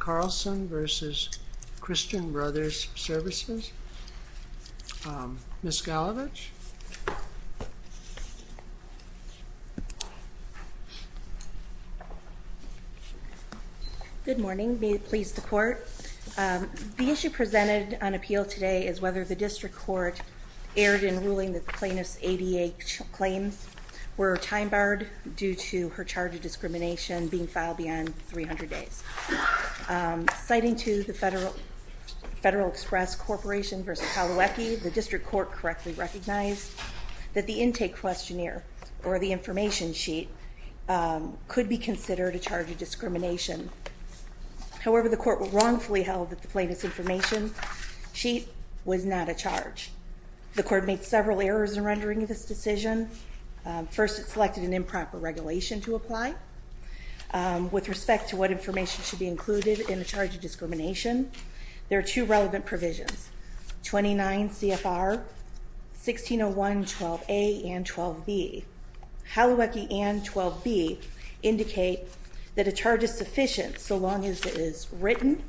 Carlson v. Christian Brothers Services. Ms. Galevich. Good morning. May it please the Court. The issue presented on appeal today is whether the District Court erred in ruling that the plaintiff's ADA claims were time-barred due to her charge of discrimination being filed beyond 300 days. Citing to the Federal Express Corporation v. Kalawacki, the District Court correctly recognized that the intake questionnaire, or the information sheet, could be considered a charge of discrimination. However, the Court wrongfully held that the plaintiff's information sheet was not a charge. The Court made several errors in rendering this decision. First, it selected an improper regulation to apply. With respect to what information should be included in a charge of discrimination, there are two relevant provisions. 29 CFR, 1601 12a and 12b. Kalawacki and 12b indicate that a charge is sufficient so long as it is written,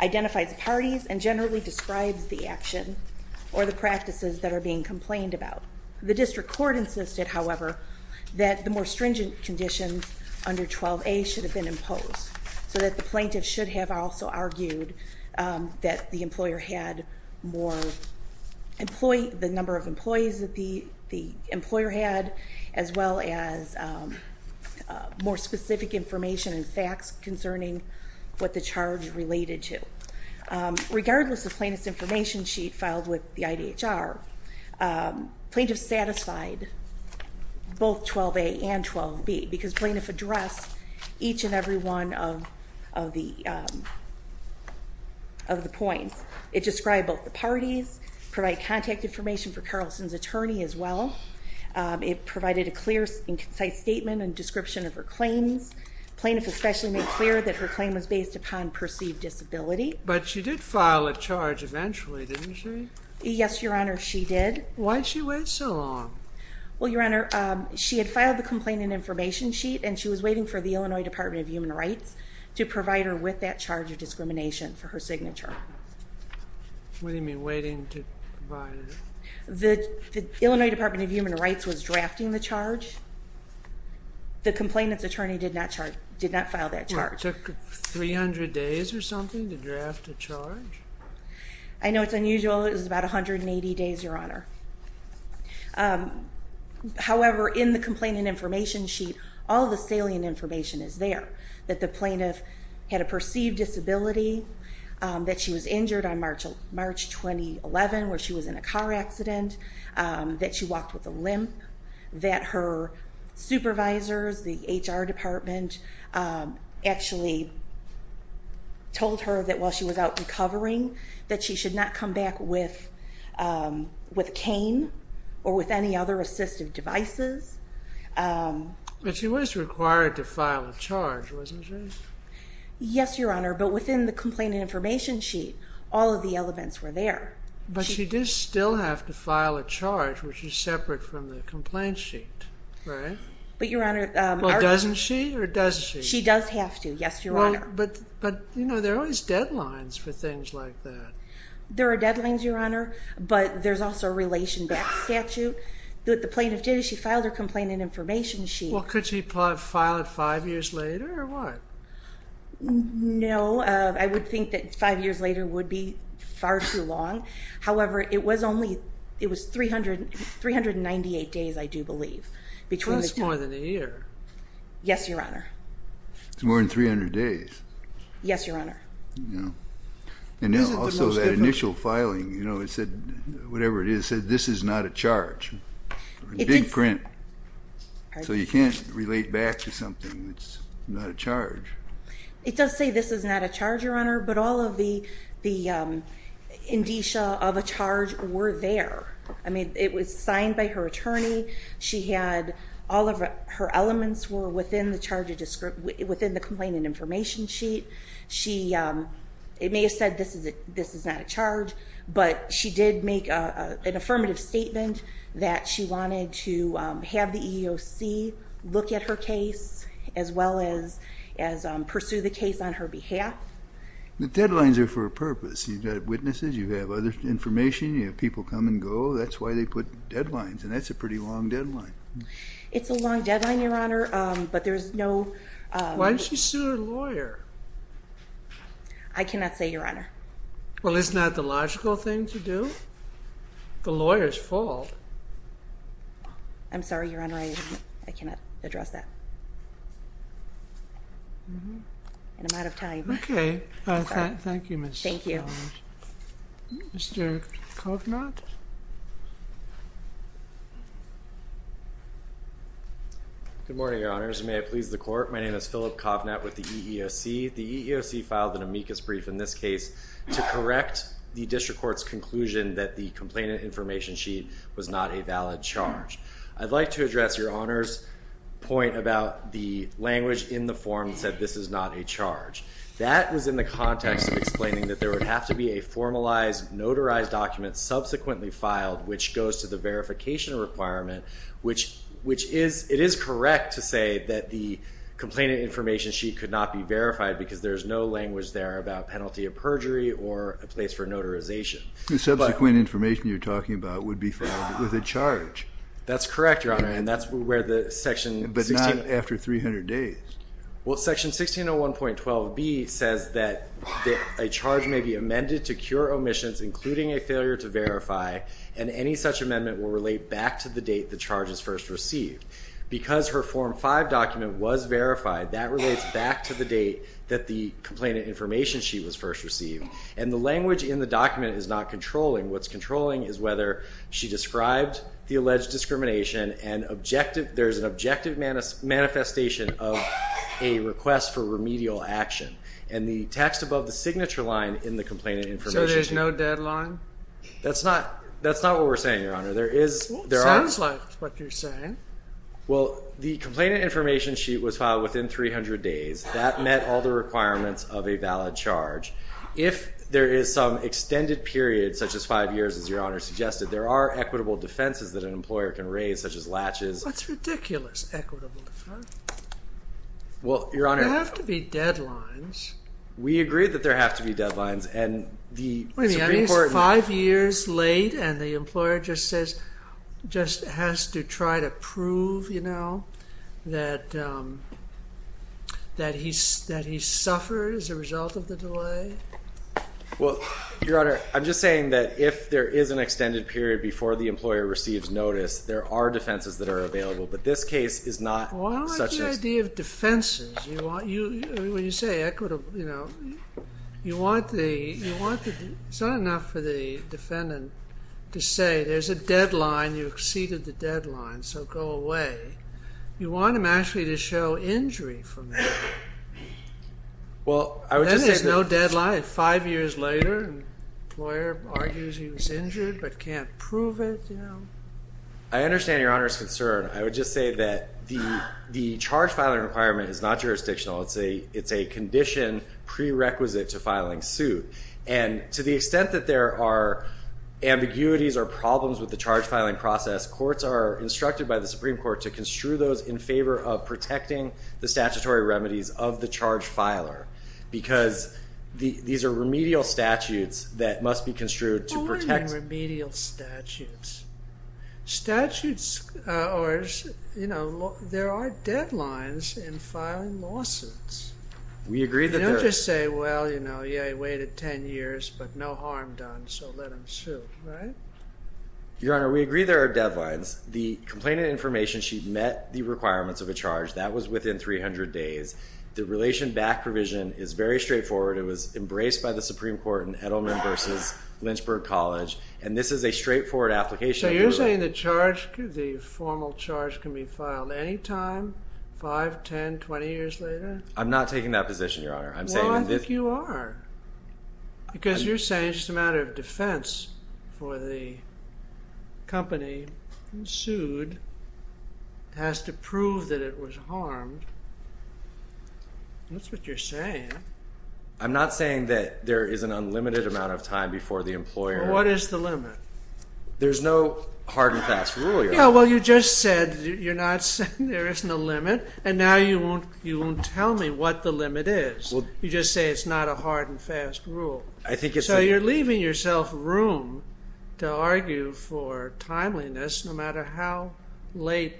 identifies the parties, and generally describes the action or the practices that are being complained about. The District Court insisted, however, that the more stringent conditions under 12a should have been imposed, so that the plaintiff should have also argued that the number of employees that the employer had, as well as more specific information and facts concerning what the charge related to. Regardless of plaintiff's information sheet filed with the IDHR, plaintiff satisfied both 12a and 12b, because plaintiff addressed each and every one of the points. It described both the parties, provided contact information for Carlson's attorney as well. It provided a clear and concise statement and description of her claims. Plaintiff especially made clear that her claim was based upon perceived disability. She did file a charge eventually, didn't she? Yes, Your Honor, she did. Why did she wait so long? Well, Your Honor, she had filed the complainant information sheet and she was waiting for the Illinois Department of Human Rights to provide her with that charge of discrimination for her signature. What do you mean, waiting to provide it? The Illinois Department of Human Rights was drafting the charge. The complainant's attorney did not file that charge. It took 300 days or something to draft the charge? I know it's unusual, it was about 180 days, Your Honor. However, in the complainant information sheet, all the salient information is there. That the plaintiff had a perceived disability, that she was injured on March 2011 where she was in a car accident, that she walked with a limp, that her supervisors, the HR department, actually told her that while she was out recovering that she should not come back with a cane or with any other assistive devices. But she was required to file a charge, wasn't she? Yes, Your Honor, but within the complainant information sheet, all of the elements were there. But she does still have to file a charge which is separate from the complaint sheet, right? But Your Honor, Well, doesn't she or does she? She does have to, yes, Your Honor. But, you know, there are always deadlines for things like that. There are deadlines, Your Honor, but there's also a relation back statute. The plaintiff did, she filed her complainant information sheet. Well, could she file it five years later or what? No, I would think that five years later would be far too long. However, it was only, it was 398 days, I do believe. Well, that's more than a year. Yes, Your Honor. It's more than 300 days. Yes, Your Honor. And also that initial filing, you know, it said, whatever it is, it said, this is not a charge. Big print. So you can't relate back to something that's not a charge. It does say this is not a charge, Your Honor, but all of the indicia of a charge were there. I mean, it was signed by her attorney. She had all of her elements were within the charge, within the complainant information sheet. But she did make an affirmative statement that she wanted to have the EEOC look at her case as well as pursue the case on her behalf. The deadlines are for a purpose. You've got witnesses, you have other information, you have people come and go. That's why they put deadlines, and that's a pretty long deadline. It's a long deadline, Your Honor, but there's no... Why didn't she sue her lawyer? I cannot say, Your Honor. Well, isn't that the logical thing to do? The lawyer's fault. I'm sorry, Your Honor. I cannot address that. And I'm out of time. Okay. Thank you, Mr. Kovnatt. Thank you. Mr. Kovnatt? Good morning, Your Honors. May I please the court? My name is Philip Kovnatt with the EEOC. The EEOC filed an amicus brief in this case to correct the district court's conclusion that the complainant information sheet was not a valid charge. I'd like to address Your Honor's point about the language in the form that said this is not a charge. That was in the context of explaining that there would have to be a formalized, notarized document subsequently filed which goes to the verification requirement, which is, it is correct to say that the complainant information sheet could not be verified because there's no language there about penalty of perjury or a place for notarization. The subsequent information you're talking about would be filed with a charge. That's correct, Your Honor, and that's where the section... But not after 300 days. Well, section 1601.12b says that a charge may be amended to cure omissions, including a failure to verify, and any such amendment will relate back to the date the charge is first received. Because her Form 5 document was verified, that relates back to the date that the complainant information sheet was first received, and the language in the document is not controlling. What's controlling is whether she described the alleged discrimination and there's an objective manifestation of a request for remedial action. And the text above the signature line in the complainant information... So there's no deadline? That's not what we're saying, Your Honor. There is... Well, it sounds like what you're saying. Well, the complainant information sheet was filed within 300 days. That met all the requirements of a valid charge. If there is some extended period, such as five years, as Your Honor suggested, there are equitable defenses that an employer can raise, such as latches... What's ridiculous, equitable defense? Well, Your Honor... There have to be deadlines. We agree that there have to be deadlines, and the Supreme Court... Well, Your Honor, I'm just saying that if there is an extended period before the employer receives notice, there are defenses that are available, but this case is not... Well, I like the idea of defenses. When you say equitable, you know, you want the... It's not enough for the defendant to say, there's a deadline, you exceeded the deadline, so go away. You want them actually to show injury from that. Well, I would just say... Then there's no deadline. Five years later, the employer argues he was injured, but can't prove it, you know. I understand Your Honor's concern. I would just say that the charge filing requirement is not jurisdictional. It's a condition prerequisite to filing suit. And to the extent that there are ambiguities or problems with the charge filing process, courts are instructed by the Supreme Court to construe those in favor of protecting the statutory remedies of the charge filer. Because these are remedial statutes that must be construed to protect... What do you mean remedial statutes? Statutes are, you know, there are deadlines in filing lawsuits. We agree that there... You don't just say, well, you know, yeah, he waited 10 years, but no harm done, so let him sue, right? Your Honor, we agree there are deadlines. The complainant information sheet met the requirements of a charge. That was within 300 days. The relation back provision is very straightforward. It was embraced by the Supreme Court in Edelman v. Lynchburg College, and this is a straightforward application. So you're saying the charge, the formal charge, can be filed any time, 5, 10, 20 years later? I'm not taking that position, Your Honor. Well, I think you are, because you're saying it's just a matter of defense for the company, sued, has to prove that it was harmed. That's what you're saying. I'm not saying that there is an unlimited amount of time before the employer... What is the limit? There's no hard and fast rule, Your Honor. Yeah, well, you just said, you're not saying there isn't a limit, and now you won't tell me what the limit is. You just say it's not a hard and fast rule. So you're leaving yourself room to argue for timeliness, no matter how late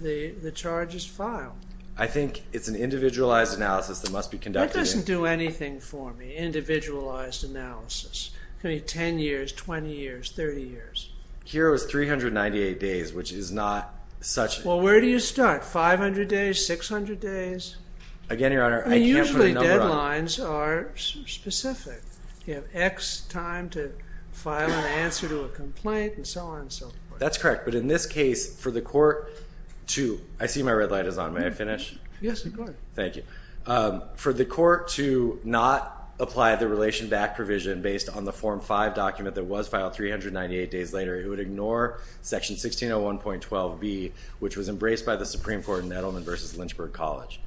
the charge is filed. I think it's an individualized analysis that must be conducted. That doesn't do anything for me, individualized analysis. It could be 10 years, 20 years, 30 years. Here it was 398 days, which is not such... Well, where do you start, 500 days, 600 days? Again, Your Honor, I can't put a number on it. Usually deadlines are specific. You have X time to file an answer to a complaint, and so on and so forth. That's correct. But in this case, for the court to... I see my red light is on. May I finish? Yes, of course. Thank you. For the court to not apply the relation back provision based on the Form 5 document that was filed 398 days later, Section 1601.12b, which was embraced by the Supreme Court in Edelman v. Lynchburg College.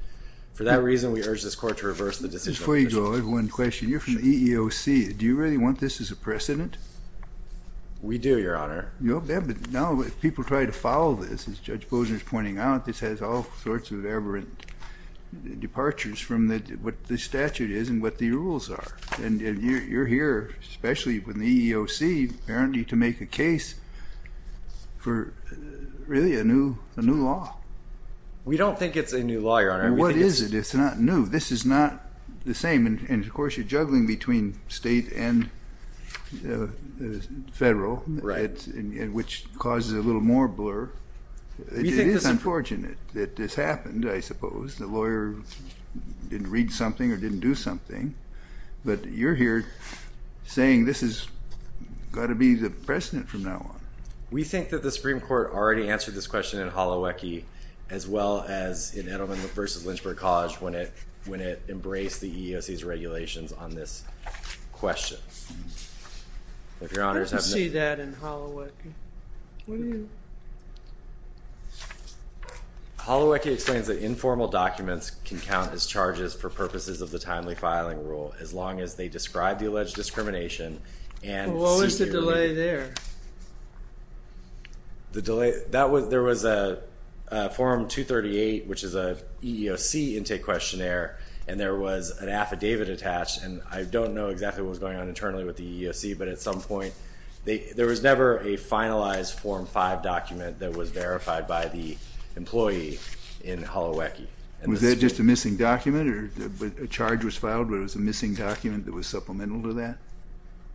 For that reason, we urge this court to reverse the decision... Before you go, I have one question. You're from the EEOC. Do you really want this as a precedent? We do, Your Honor. Yeah, but now people try to follow this. As Judge Bozner is pointing out, this has all sorts of aberrant departures from what the statute is and what the rules are. And you're here, especially with the EEOC, apparently to make a case for really a new law. We don't think it's a new law, Your Honor. What is it? It's not new. This is not the same. And, of course, you're juggling between state and federal, which causes a little more blur. It is unfortunate that this happened, I suppose. The lawyer didn't read something or didn't do something. But you're here saying this has got to be the precedent from now on. We think that the Supreme Court already answered this question in Holowecki as well as in Edelman v. Lynchburg College when it embraced the EEOC's regulations on this question. I didn't see that in Holowecki. What do you... Holowecki explains that informal documents can count as charges for purposes of the timely filing rule as long as they describe the alleged discrimination and... What was the delay there? There was a Form 238, which is an EEOC intake questionnaire, and there was an affidavit attached. And I don't know exactly what was going on internally with the EEOC. There was never a finalized Form 5 document that was verified by the employee in Holowecki. Was that just a missing document? A charge was filed, but it was a missing document that was supplemental to that?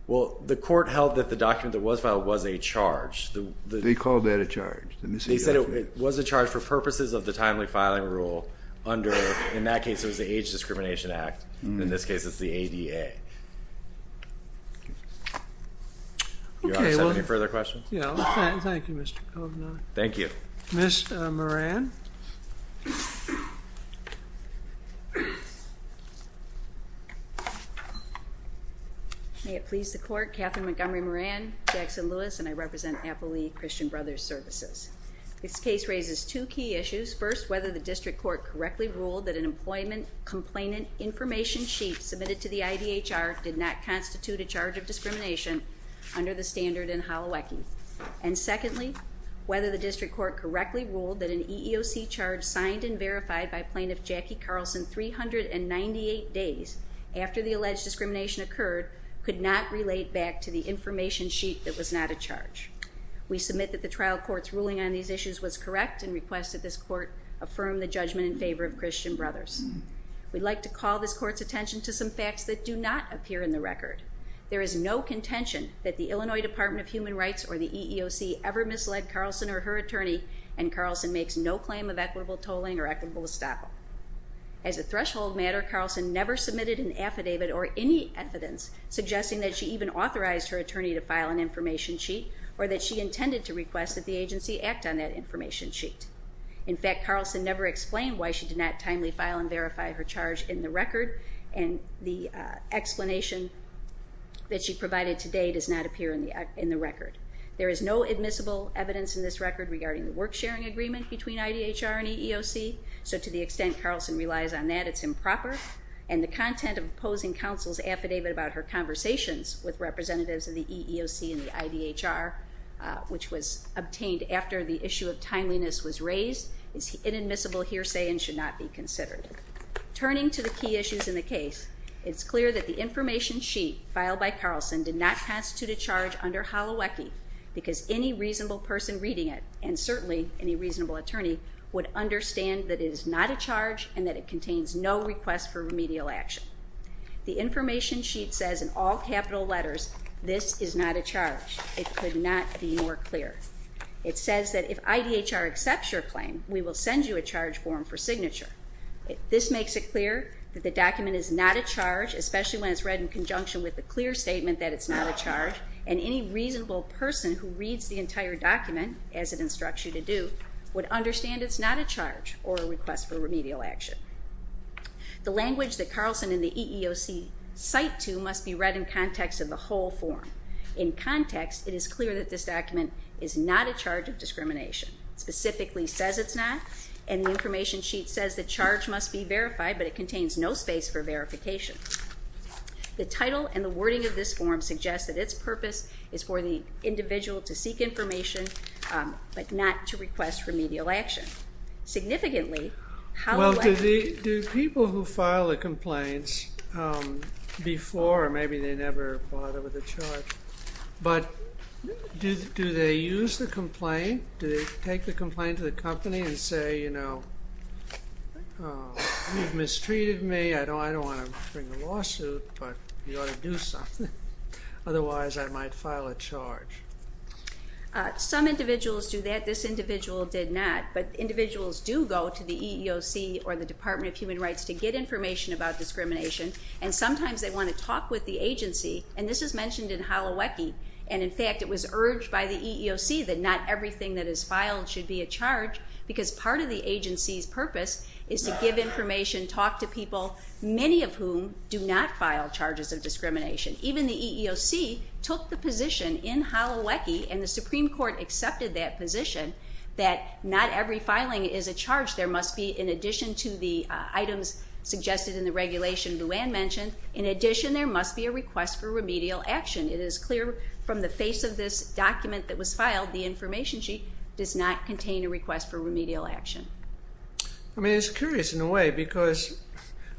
Well, the court held that the document that was filed was a charge. They called that a charge, the missing document? They said it was a charge for purposes of the timely filing rule under, in that case, it was the Age Discrimination Act. In this case, it's the ADA. Do you want to send any further questions? Yeah, thank you, Mr. Kovner. Thank you. Ms. Moran? May it please the Court, Catherine Montgomery Moran, Jackson Lewis, and I represent Appali Christian Brothers Services. This case raises two key issues. First, whether the district court correctly ruled that an employment complainant information sheet submitted to the IDHR did not constitute a charge of discrimination under the standard in Holowecki. And secondly, whether the district court correctly ruled that an EEOC charge signed and verified by Plaintiff Jackie Carlson 398 days after the alleged discrimination occurred could not relate back to the information sheet that was not a charge. We submit that the trial court's ruling on these issues was correct and request that this court affirm the judgment in favor of Christian Brothers. We'd like to call this court's attention to some facts that do not appear in the record. There is no contention that the Illinois Department of Human Rights or the EEOC ever misled Carlson or her attorney, and Carlson makes no claim of equitable tolling or equitable estoppel. As a threshold matter, Carlson never submitted an affidavit or any evidence suggesting that she even authorized her attorney to file an information sheet or that she intended to request that the agency act on that information sheet. In fact, Carlson never explained why she did not timely file and verify her charge in the record, and the explanation that she provided today does not appear in the record. There is no admissible evidence in this record regarding the work-sharing agreement between IDHR and EEOC, so to the extent Carlson relies on that, it's improper, and the content of opposing counsel's affidavit about her conversations with representatives of the EEOC and the IDHR, which was obtained after the issue of timeliness was raised, is inadmissible hearsay and should not be considered. Turning to the key issues in the case, it's clear that the information sheet filed by Carlson did not constitute a charge under Holowecki because any reasonable person reading it, and certainly any reasonable attorney, would understand that it is not a charge and that it contains no request for remedial action. The information sheet says in all capital letters, this is not a charge. It could not be more clear. It says that if IDHR accepts your claim, we will send you a charge form for signature. This makes it clear that the document is not a charge, especially when it's read in conjunction with the clear statement that it's not a charge, and any reasonable person who reads the entire document, as it instructs you to do, would understand it's not a charge or a request for remedial action. The language that Carlson and the EEOC cite to must be read in context of the whole form. In context, it is clear that this document is not a charge of discrimination. It specifically says it's not, and the information sheet says the charge must be verified, but it contains no space for verification. The title and the wording of this form suggests that its purpose is for the individual to seek information, but not to request remedial action. Significantly, how do I... Well, do people who file the complaints before, or maybe they never filed it with a charge, but do they use the complaint? Do they take the complaint to the company and say, you know, you've mistreated me. I don't want to bring a lawsuit, but you ought to do something. Otherwise, I might file a charge. Some individuals do that. This individual did not, but individuals do go to the EEOC or the Department of Human Rights to get information about discrimination, and sometimes they want to talk with the agency, and this is mentioned in Holowecki. And, in fact, it was urged by the EEOC that not everything that is filed should be a charge because part of the agency's purpose is to give information, talk to people, many of whom do not file charges of discrimination. Even the EEOC took the position in Holowecki, and the Supreme Court accepted that position, that not every filing is a charge. There must be, in addition to the items suggested in the regulation Luann mentioned, in addition there must be a request for remedial action. It is clear from the face of this document that was filed, the information sheet does not contain a request for remedial action. I mean, it's curious in a way because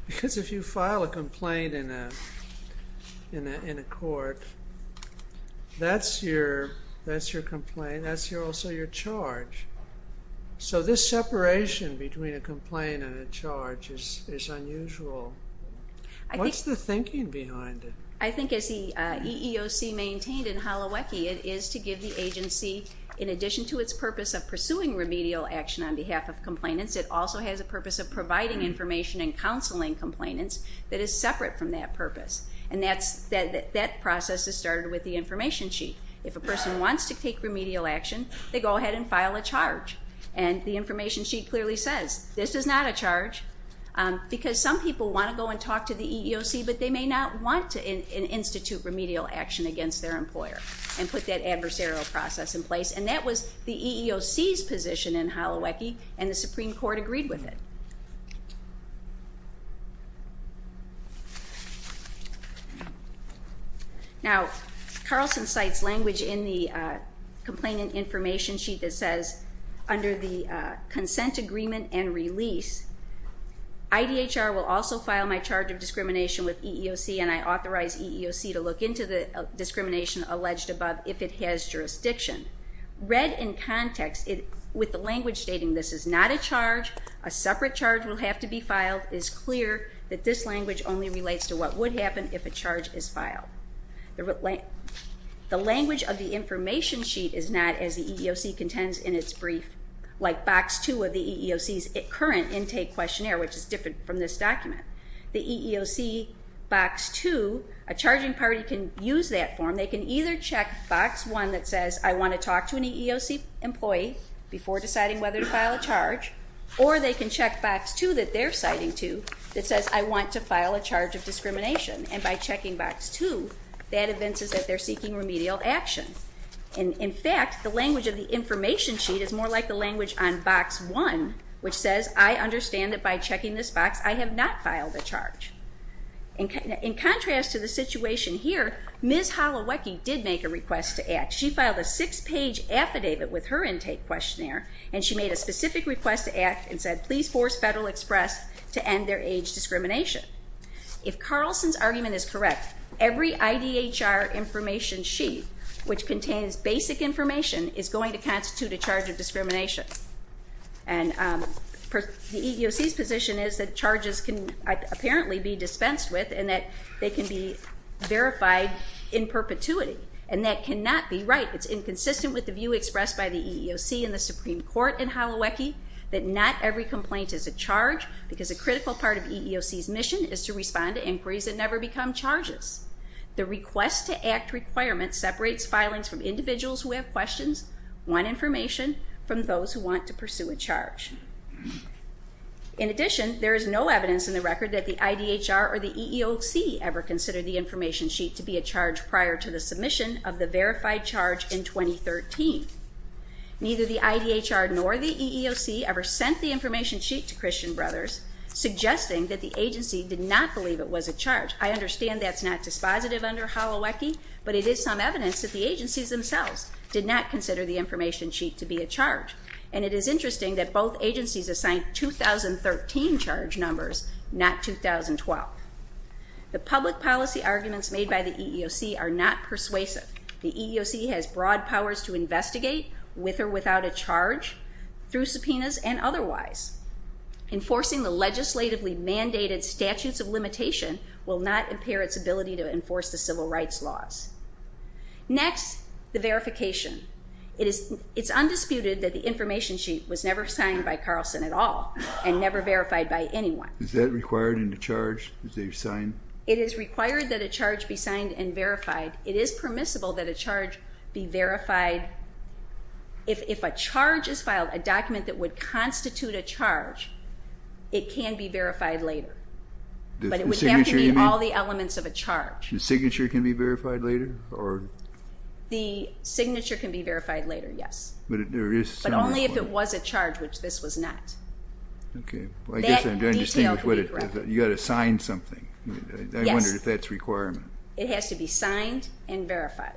if you file a complaint in a court, that's your complaint, that's also your charge. So this separation between a complaint and a charge is unusual. What's the thinking behind it? I think as the EEOC maintained in Holowecki, it is to give the agency, in addition to its purpose of pursuing remedial action on behalf of complainants, it also has a purpose of providing information and counseling complainants that is separate from that purpose. And that process is started with the information sheet. If a person wants to take remedial action, they go ahead and file a charge. And the information sheet clearly says this is not a charge because some people want to go and talk to the EEOC, but they may not want to institute remedial action against their employer and put that adversarial process in place. And that was the EEOC's position in Holowecki, and the Supreme Court agreed with it. Now, Carlson cites language in the complainant information sheet that says, under the consent agreement and release, IDHR will also file my charge of discrimination with EEOC, and I authorize EEOC to look into the discrimination alleged above if it has jurisdiction. Read in context with the language stating this is not a charge, a separate charge will have to be filed, it is clear that this language only relates to what would happen if a charge is filed. The language of the information sheet is not, as the EEOC contends in its brief, like Box 2 of the EEOC's current intake questionnaire, which is different from this document. The EEOC Box 2, a charging party can use that form. They can either check Box 1 that says, I want to talk to an EEOC employee before deciding whether to file a charge, or they can check Box 2 that they're citing to that says, I want to file a charge of discrimination. And by checking Box 2, that evinces that they're seeking remedial action. In fact, the language of the information sheet is more like the language on Box 1, which says, I understand that by checking this box, I have not filed a charge. In contrast to the situation here, Ms. Holowecki did make a request to act. She filed a six-page affidavit with her intake questionnaire, and she made a specific request to act and said, please force Federal Express to end their age discrimination. If Carlson's argument is correct, every IDHR information sheet, which contains basic information, is going to constitute a charge of discrimination. And the EEOC's position is that charges can apparently be dispensed with, and that they can be verified in perpetuity, and that cannot be right. It's inconsistent with the view expressed by the EEOC and the Supreme Court in Holowecki, that not every complaint is a charge, because a critical part of EEOC's mission is to respond to inquiries that never become charges. The request to act requirement separates filings from individuals who have questions, want information, from those who want to pursue a charge. In addition, there is no evidence in the record that the IDHR or the EEOC ever considered the information sheet to be a charge prior to the submission of the verified charge in 2013. Neither the IDHR nor the EEOC ever sent the information sheet to Christian Brothers, suggesting that the agency did not believe it was a charge. I understand that's not dispositive under Holowecki, but it is some evidence that the agencies themselves did not consider the information sheet to be a charge. And it is interesting that both agencies assigned 2013 charge numbers, not 2012. The public policy arguments made by the EEOC are not persuasive. The EEOC has broad powers to investigate, with or without a charge, through subpoenas and otherwise. Enforcing the legislatively mandated statutes of limitation will not impair its ability to enforce the civil rights laws. Next, the verification. It's undisputed that the information sheet was never signed by Carlson at all, and never verified by anyone. Is that required in the charge that they've signed? It is required that a charge be signed and verified. It is permissible that a charge be verified. If a charge is filed, a document that would constitute a charge, it can be verified later. But it would have to be all the elements of a charge. The signature can be verified later? The signature can be verified later, yes. But only if it was a charge, which this was not. Okay. That detail could be broken. You've got to sign something. Yes. I wonder if that's a requirement. It has to be signed and verified.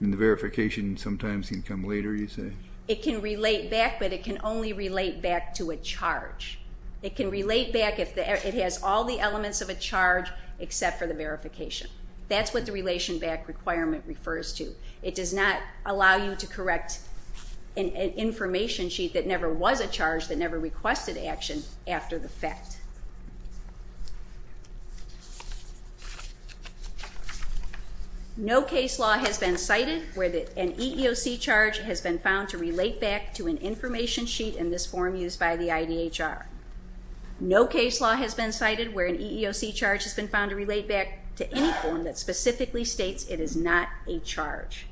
And the verification sometimes can come later, you say? It can relate back, but it can only relate back to a charge. It can relate back if it has all the elements of a charge, except for the verification. That's what the relation back requirement refers to. It does not allow you to correct an information sheet that never was a charge, that never requested action after the fact. No case law has been cited where an EEOC charge has been found to relate back to an information sheet in this form used by the IDHR. No case law has been cited where an EEOC charge has been found to relate back to any form that specifically states it is not a charge.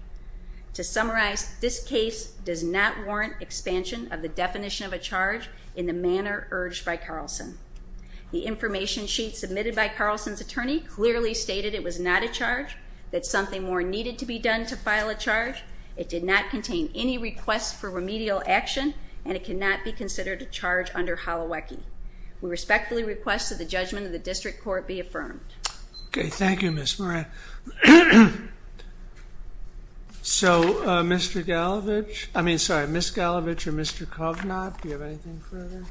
To summarize, this case does not warrant expansion of the definition of a charge in the manner urged by Carlson. The information sheet submitted by Carlson's attorney clearly stated it was not a charge, that something more needed to be done to file a charge. It did not contain any requests for remedial action, and it cannot be considered a charge under Holowecki. We respectfully request that the judgment of the district court be affirmed. Okay. Thank you, Ms. Moran. Okay. So, Mr. Galevich, I mean, sorry, Ms. Galevich or Mr. Covenaught, do you have anything further?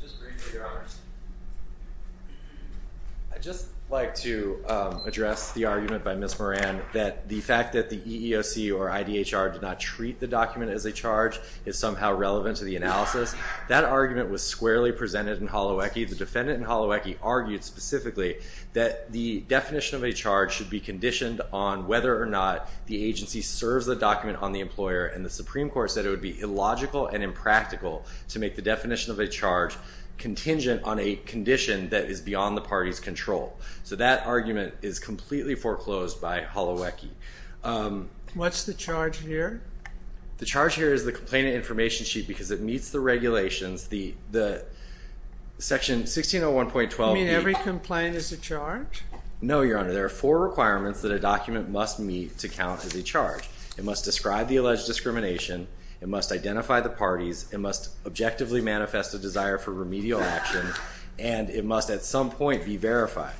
Just briefly, Your Honors. I'd just like to address the argument by Ms. Moran that the fact that the EEOC or IDHR did not treat the document as a charge is somehow relevant to the analysis. That argument was squarely presented in Holowecki. The defendant in Holowecki argued specifically that the definition of a charge should be conditioned on whether or not the agency serves the document on the employer, and the Supreme Court said it would be illogical and impractical to make the definition of a charge contingent on a condition that is beyond the party's control. So that argument is completely foreclosed by Holowecki. What's the charge here? The charge here is the complainant information sheet because it meets the regulations. Section 1601.12. You mean every complaint is a charge? No, Your Honor. There are four requirements that a document must meet to count as a charge. It must describe the alleged discrimination. It must identify the parties. It must objectively manifest a desire for remedial action. And it must at some point be verified.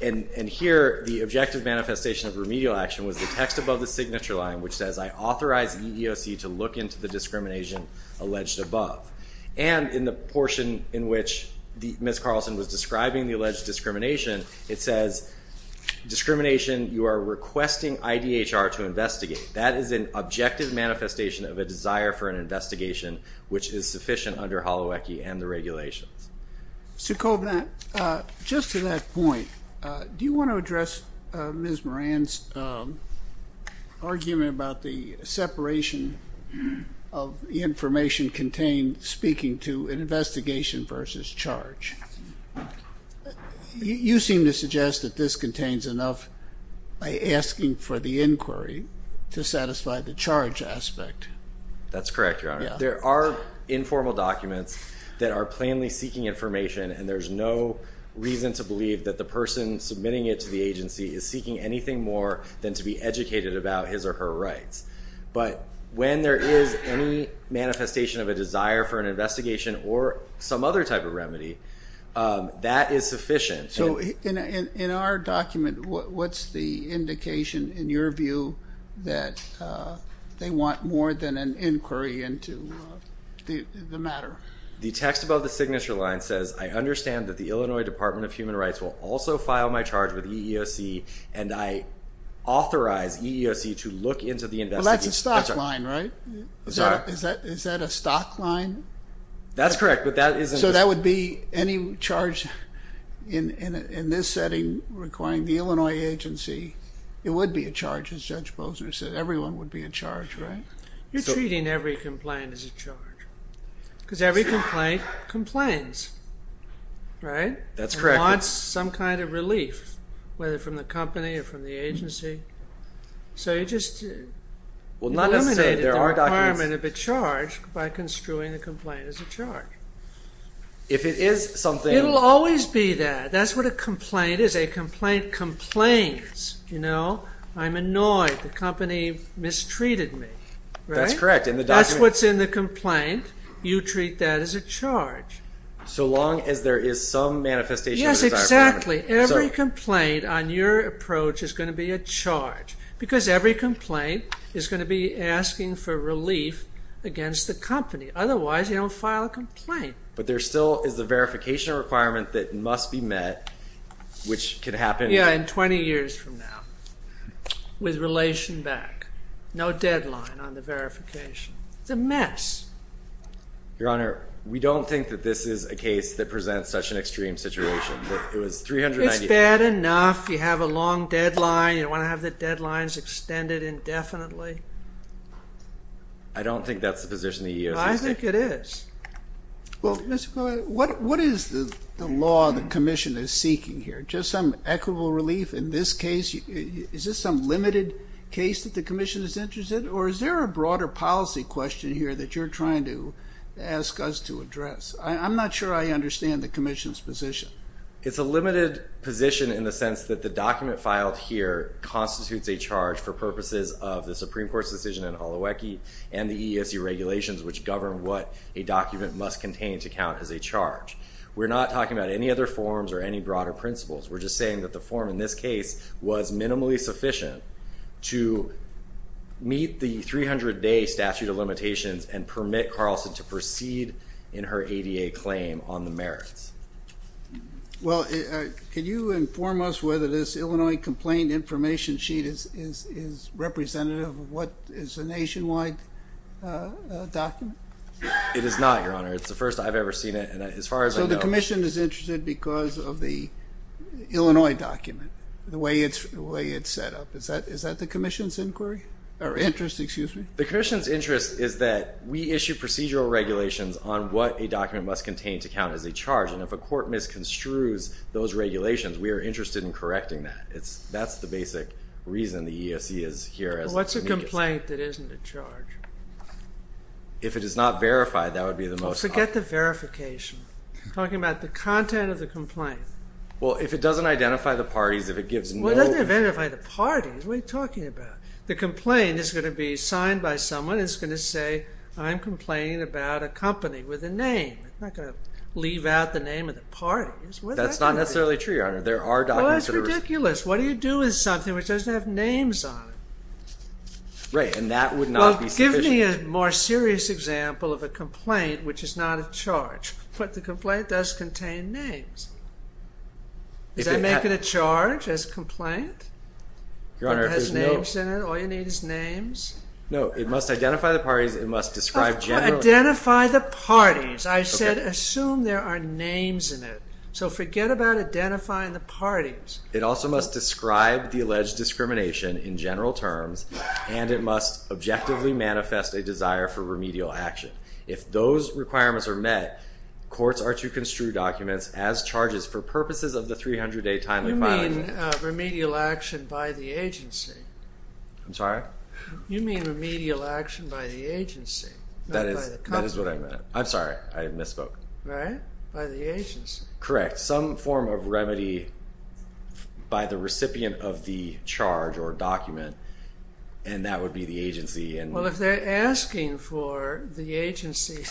And here, the objective manifestation of remedial action was the text above the signature line which says, I authorize EEOC to look into the discrimination alleged above. And in the portion in which Ms. Carlson was describing the alleged discrimination, it says discrimination you are requesting IDHR to investigate. That is an objective manifestation of a desire for an investigation which is sufficient under Holowecki and the regulations. Just to that point, do you want to address Ms. Moran's argument about the separation of information contained speaking to an investigation versus charge? You seem to suggest that this contains enough asking for the inquiry to satisfy the charge aspect. That's correct, Your Honor. There are informal documents that are plainly seeking information, and there's no reason to believe that the person submitting it to the agency is seeking anything more than to be educated about his or her rights. But when there is any manifestation of a desire for an investigation or some other type of remedy, that is sufficient. So in our document, what's the indication in your view that they want more than an inquiry into the matter? The text above the signature line says, I understand that the Illinois Department of Human Rights will also file my charge with EEOC, and I authorize EEOC to look into the investigation. Well, that's a stock line, right? Is that a stock line? That's correct, but that isn't. So that would be any charge in this setting requiring the Illinois agency. It would be a charge, as Judge Posner said. Everyone would be in charge, right? You're treating every complaint as a charge because every complaint complains, right? That's correct. It wants some kind of relief, whether from the company or from the agency. So you just eliminated the requirement of a charge by construing the complaint as a charge. If it is something... It will always be that. That's what a complaint is. A complaint complains. I'm annoyed. The company mistreated me. That's correct. That's what's in the complaint. You treat that as a charge. So long as there is some manifestation of a desire for remedy. Yes, exactly. Every complaint on your approach is going to be a charge because every complaint is going to be asking for relief against the company. Otherwise, you don't file a complaint. But there still is a verification requirement that must be met, which could happen... Yeah, in 20 years from now with relation back. No deadline on the verification. It's a mess. Your Honor, we don't think that this is a case that presents such an extreme situation. It's bad enough. You have a long deadline. You don't want to have the deadlines extended indefinitely. I don't think that's the position the EEOC is taking. I think it is. Well, what is the law the Commission is seeking here? Just some equitable relief in this case? Is this some limited case that the Commission is interested in? I'm not sure I understand the Commission's position. It's a limited position in the sense that the document filed here constitutes a charge for purposes of the Supreme Court's decision in Holowecki and the EEOC regulations which govern what a document must contain to count as a charge. We're not talking about any other forms or any broader principles. We're just saying that the form in this case was minimally sufficient to meet the 300-day statute of limitations and permit Carlson to proceed in her ADA claim on the merits. Well, can you inform us whether this Illinois complaint information sheet is representative of what is a nationwide document? It is not, Your Honor. It's the first I've ever seen it and as far as I know... Is it because of the Illinois document, the way it's set up? Is that the Commission's inquiry or interest, excuse me? The Commission's interest is that we issue procedural regulations on what a document must contain to count as a charge and if a court misconstrues those regulations, we are interested in correcting that. That's the basic reason the EEOC is here. What's a complaint that isn't a charge? If it is not verified, that would be the most... Forget the verification. We're talking about the content of the complaint. Well, if it doesn't identify the parties, if it gives no... Well, it doesn't identify the parties. What are you talking about? The complaint is going to be signed by someone. It's going to say, I'm complaining about a company with a name. It's not going to leave out the name of the parties. That's not necessarily true, Your Honor. There are documents that are... Well, it's ridiculous. What do you do with something which doesn't have names on it? Right, and that would not be sufficient. I'm giving you a more serious example of a complaint which is not a charge, but the complaint does contain names. Does that make it a charge as a complaint? Your Honor, if there's no... If it has names in it, all you need is names? No, it must identify the parties, it must describe generally... Identify the parties. I said assume there are names in it. So forget about identifying the parties. It also must describe the alleged discrimination in general terms and it must objectively manifest a desire for remedial action. If those requirements are met, courts are to construe documents as charges for purposes of the 300-day timely filing. You mean remedial action by the agency. I'm sorry? You mean remedial action by the agency, not by the company. That is what I meant. I'm sorry, I misspoke. Right, by the agency. Correct. You have some form of remedy by the recipient of the charge or document and that would be the agency. Well, if they're asking for the agency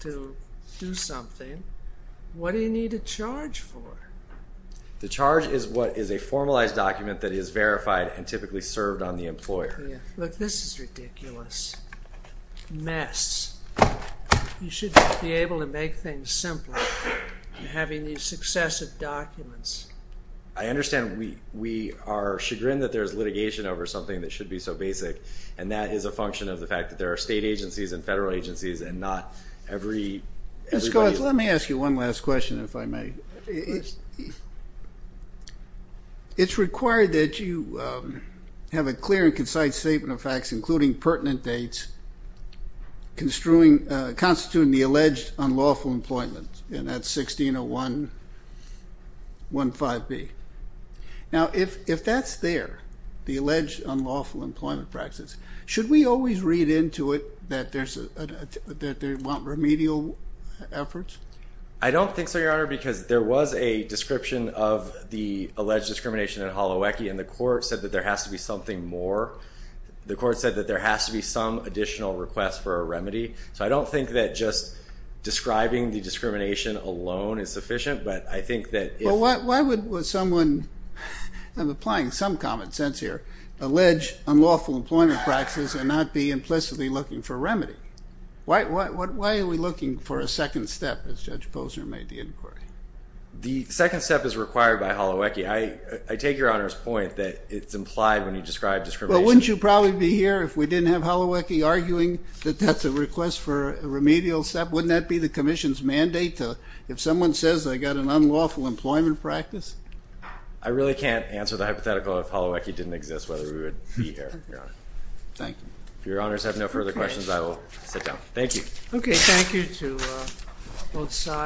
to do something, what do you need a charge for? The charge is what is a formalized document that is verified and typically served on the employer. Look, this is ridiculous. Mess. You should just be able to make things simpler in having these successive documents. I understand we are chagrined that there is litigation over something that should be so basic, and that is a function of the fact that there are state agencies and federal agencies and not everybody. Mr. Collins, let me ask you one last question, if I may. It's required that you have a clear and concise statement of facts, including pertinent dates, constituting the alleged unlawful employment, and that's 1601.15b. Now, if that's there, the alleged unlawful employment practice, should we always read into it that they want remedial efforts? I don't think so, Your Honor, because there was a description of the alleged discrimination in Holowecki and the court said that there has to be something more. The court said that there has to be some additional request for a remedy. So I don't think that just describing the discrimination alone is sufficient, but I think that if... Well, why would someone, I'm applying some common sense here, allege unlawful employment practices and not be implicitly looking for a remedy? Why are we looking for a second step, as Judge Posner made the inquiry? The second step is required by Holowecki. I take Your Honor's point that it's implied when you describe discrimination. Well, wouldn't you probably be here if we didn't have Holowecki arguing that that's a request for a remedial step? Wouldn't that be the Commission's mandate if someone says they've got an unlawful employment practice? I really can't answer the hypothetical if Holowecki didn't exist, whether we would be here, Your Honor. Thank you. If Your Honors have no further questions, I will sit down. Thank you. Okay, thank you to both sides.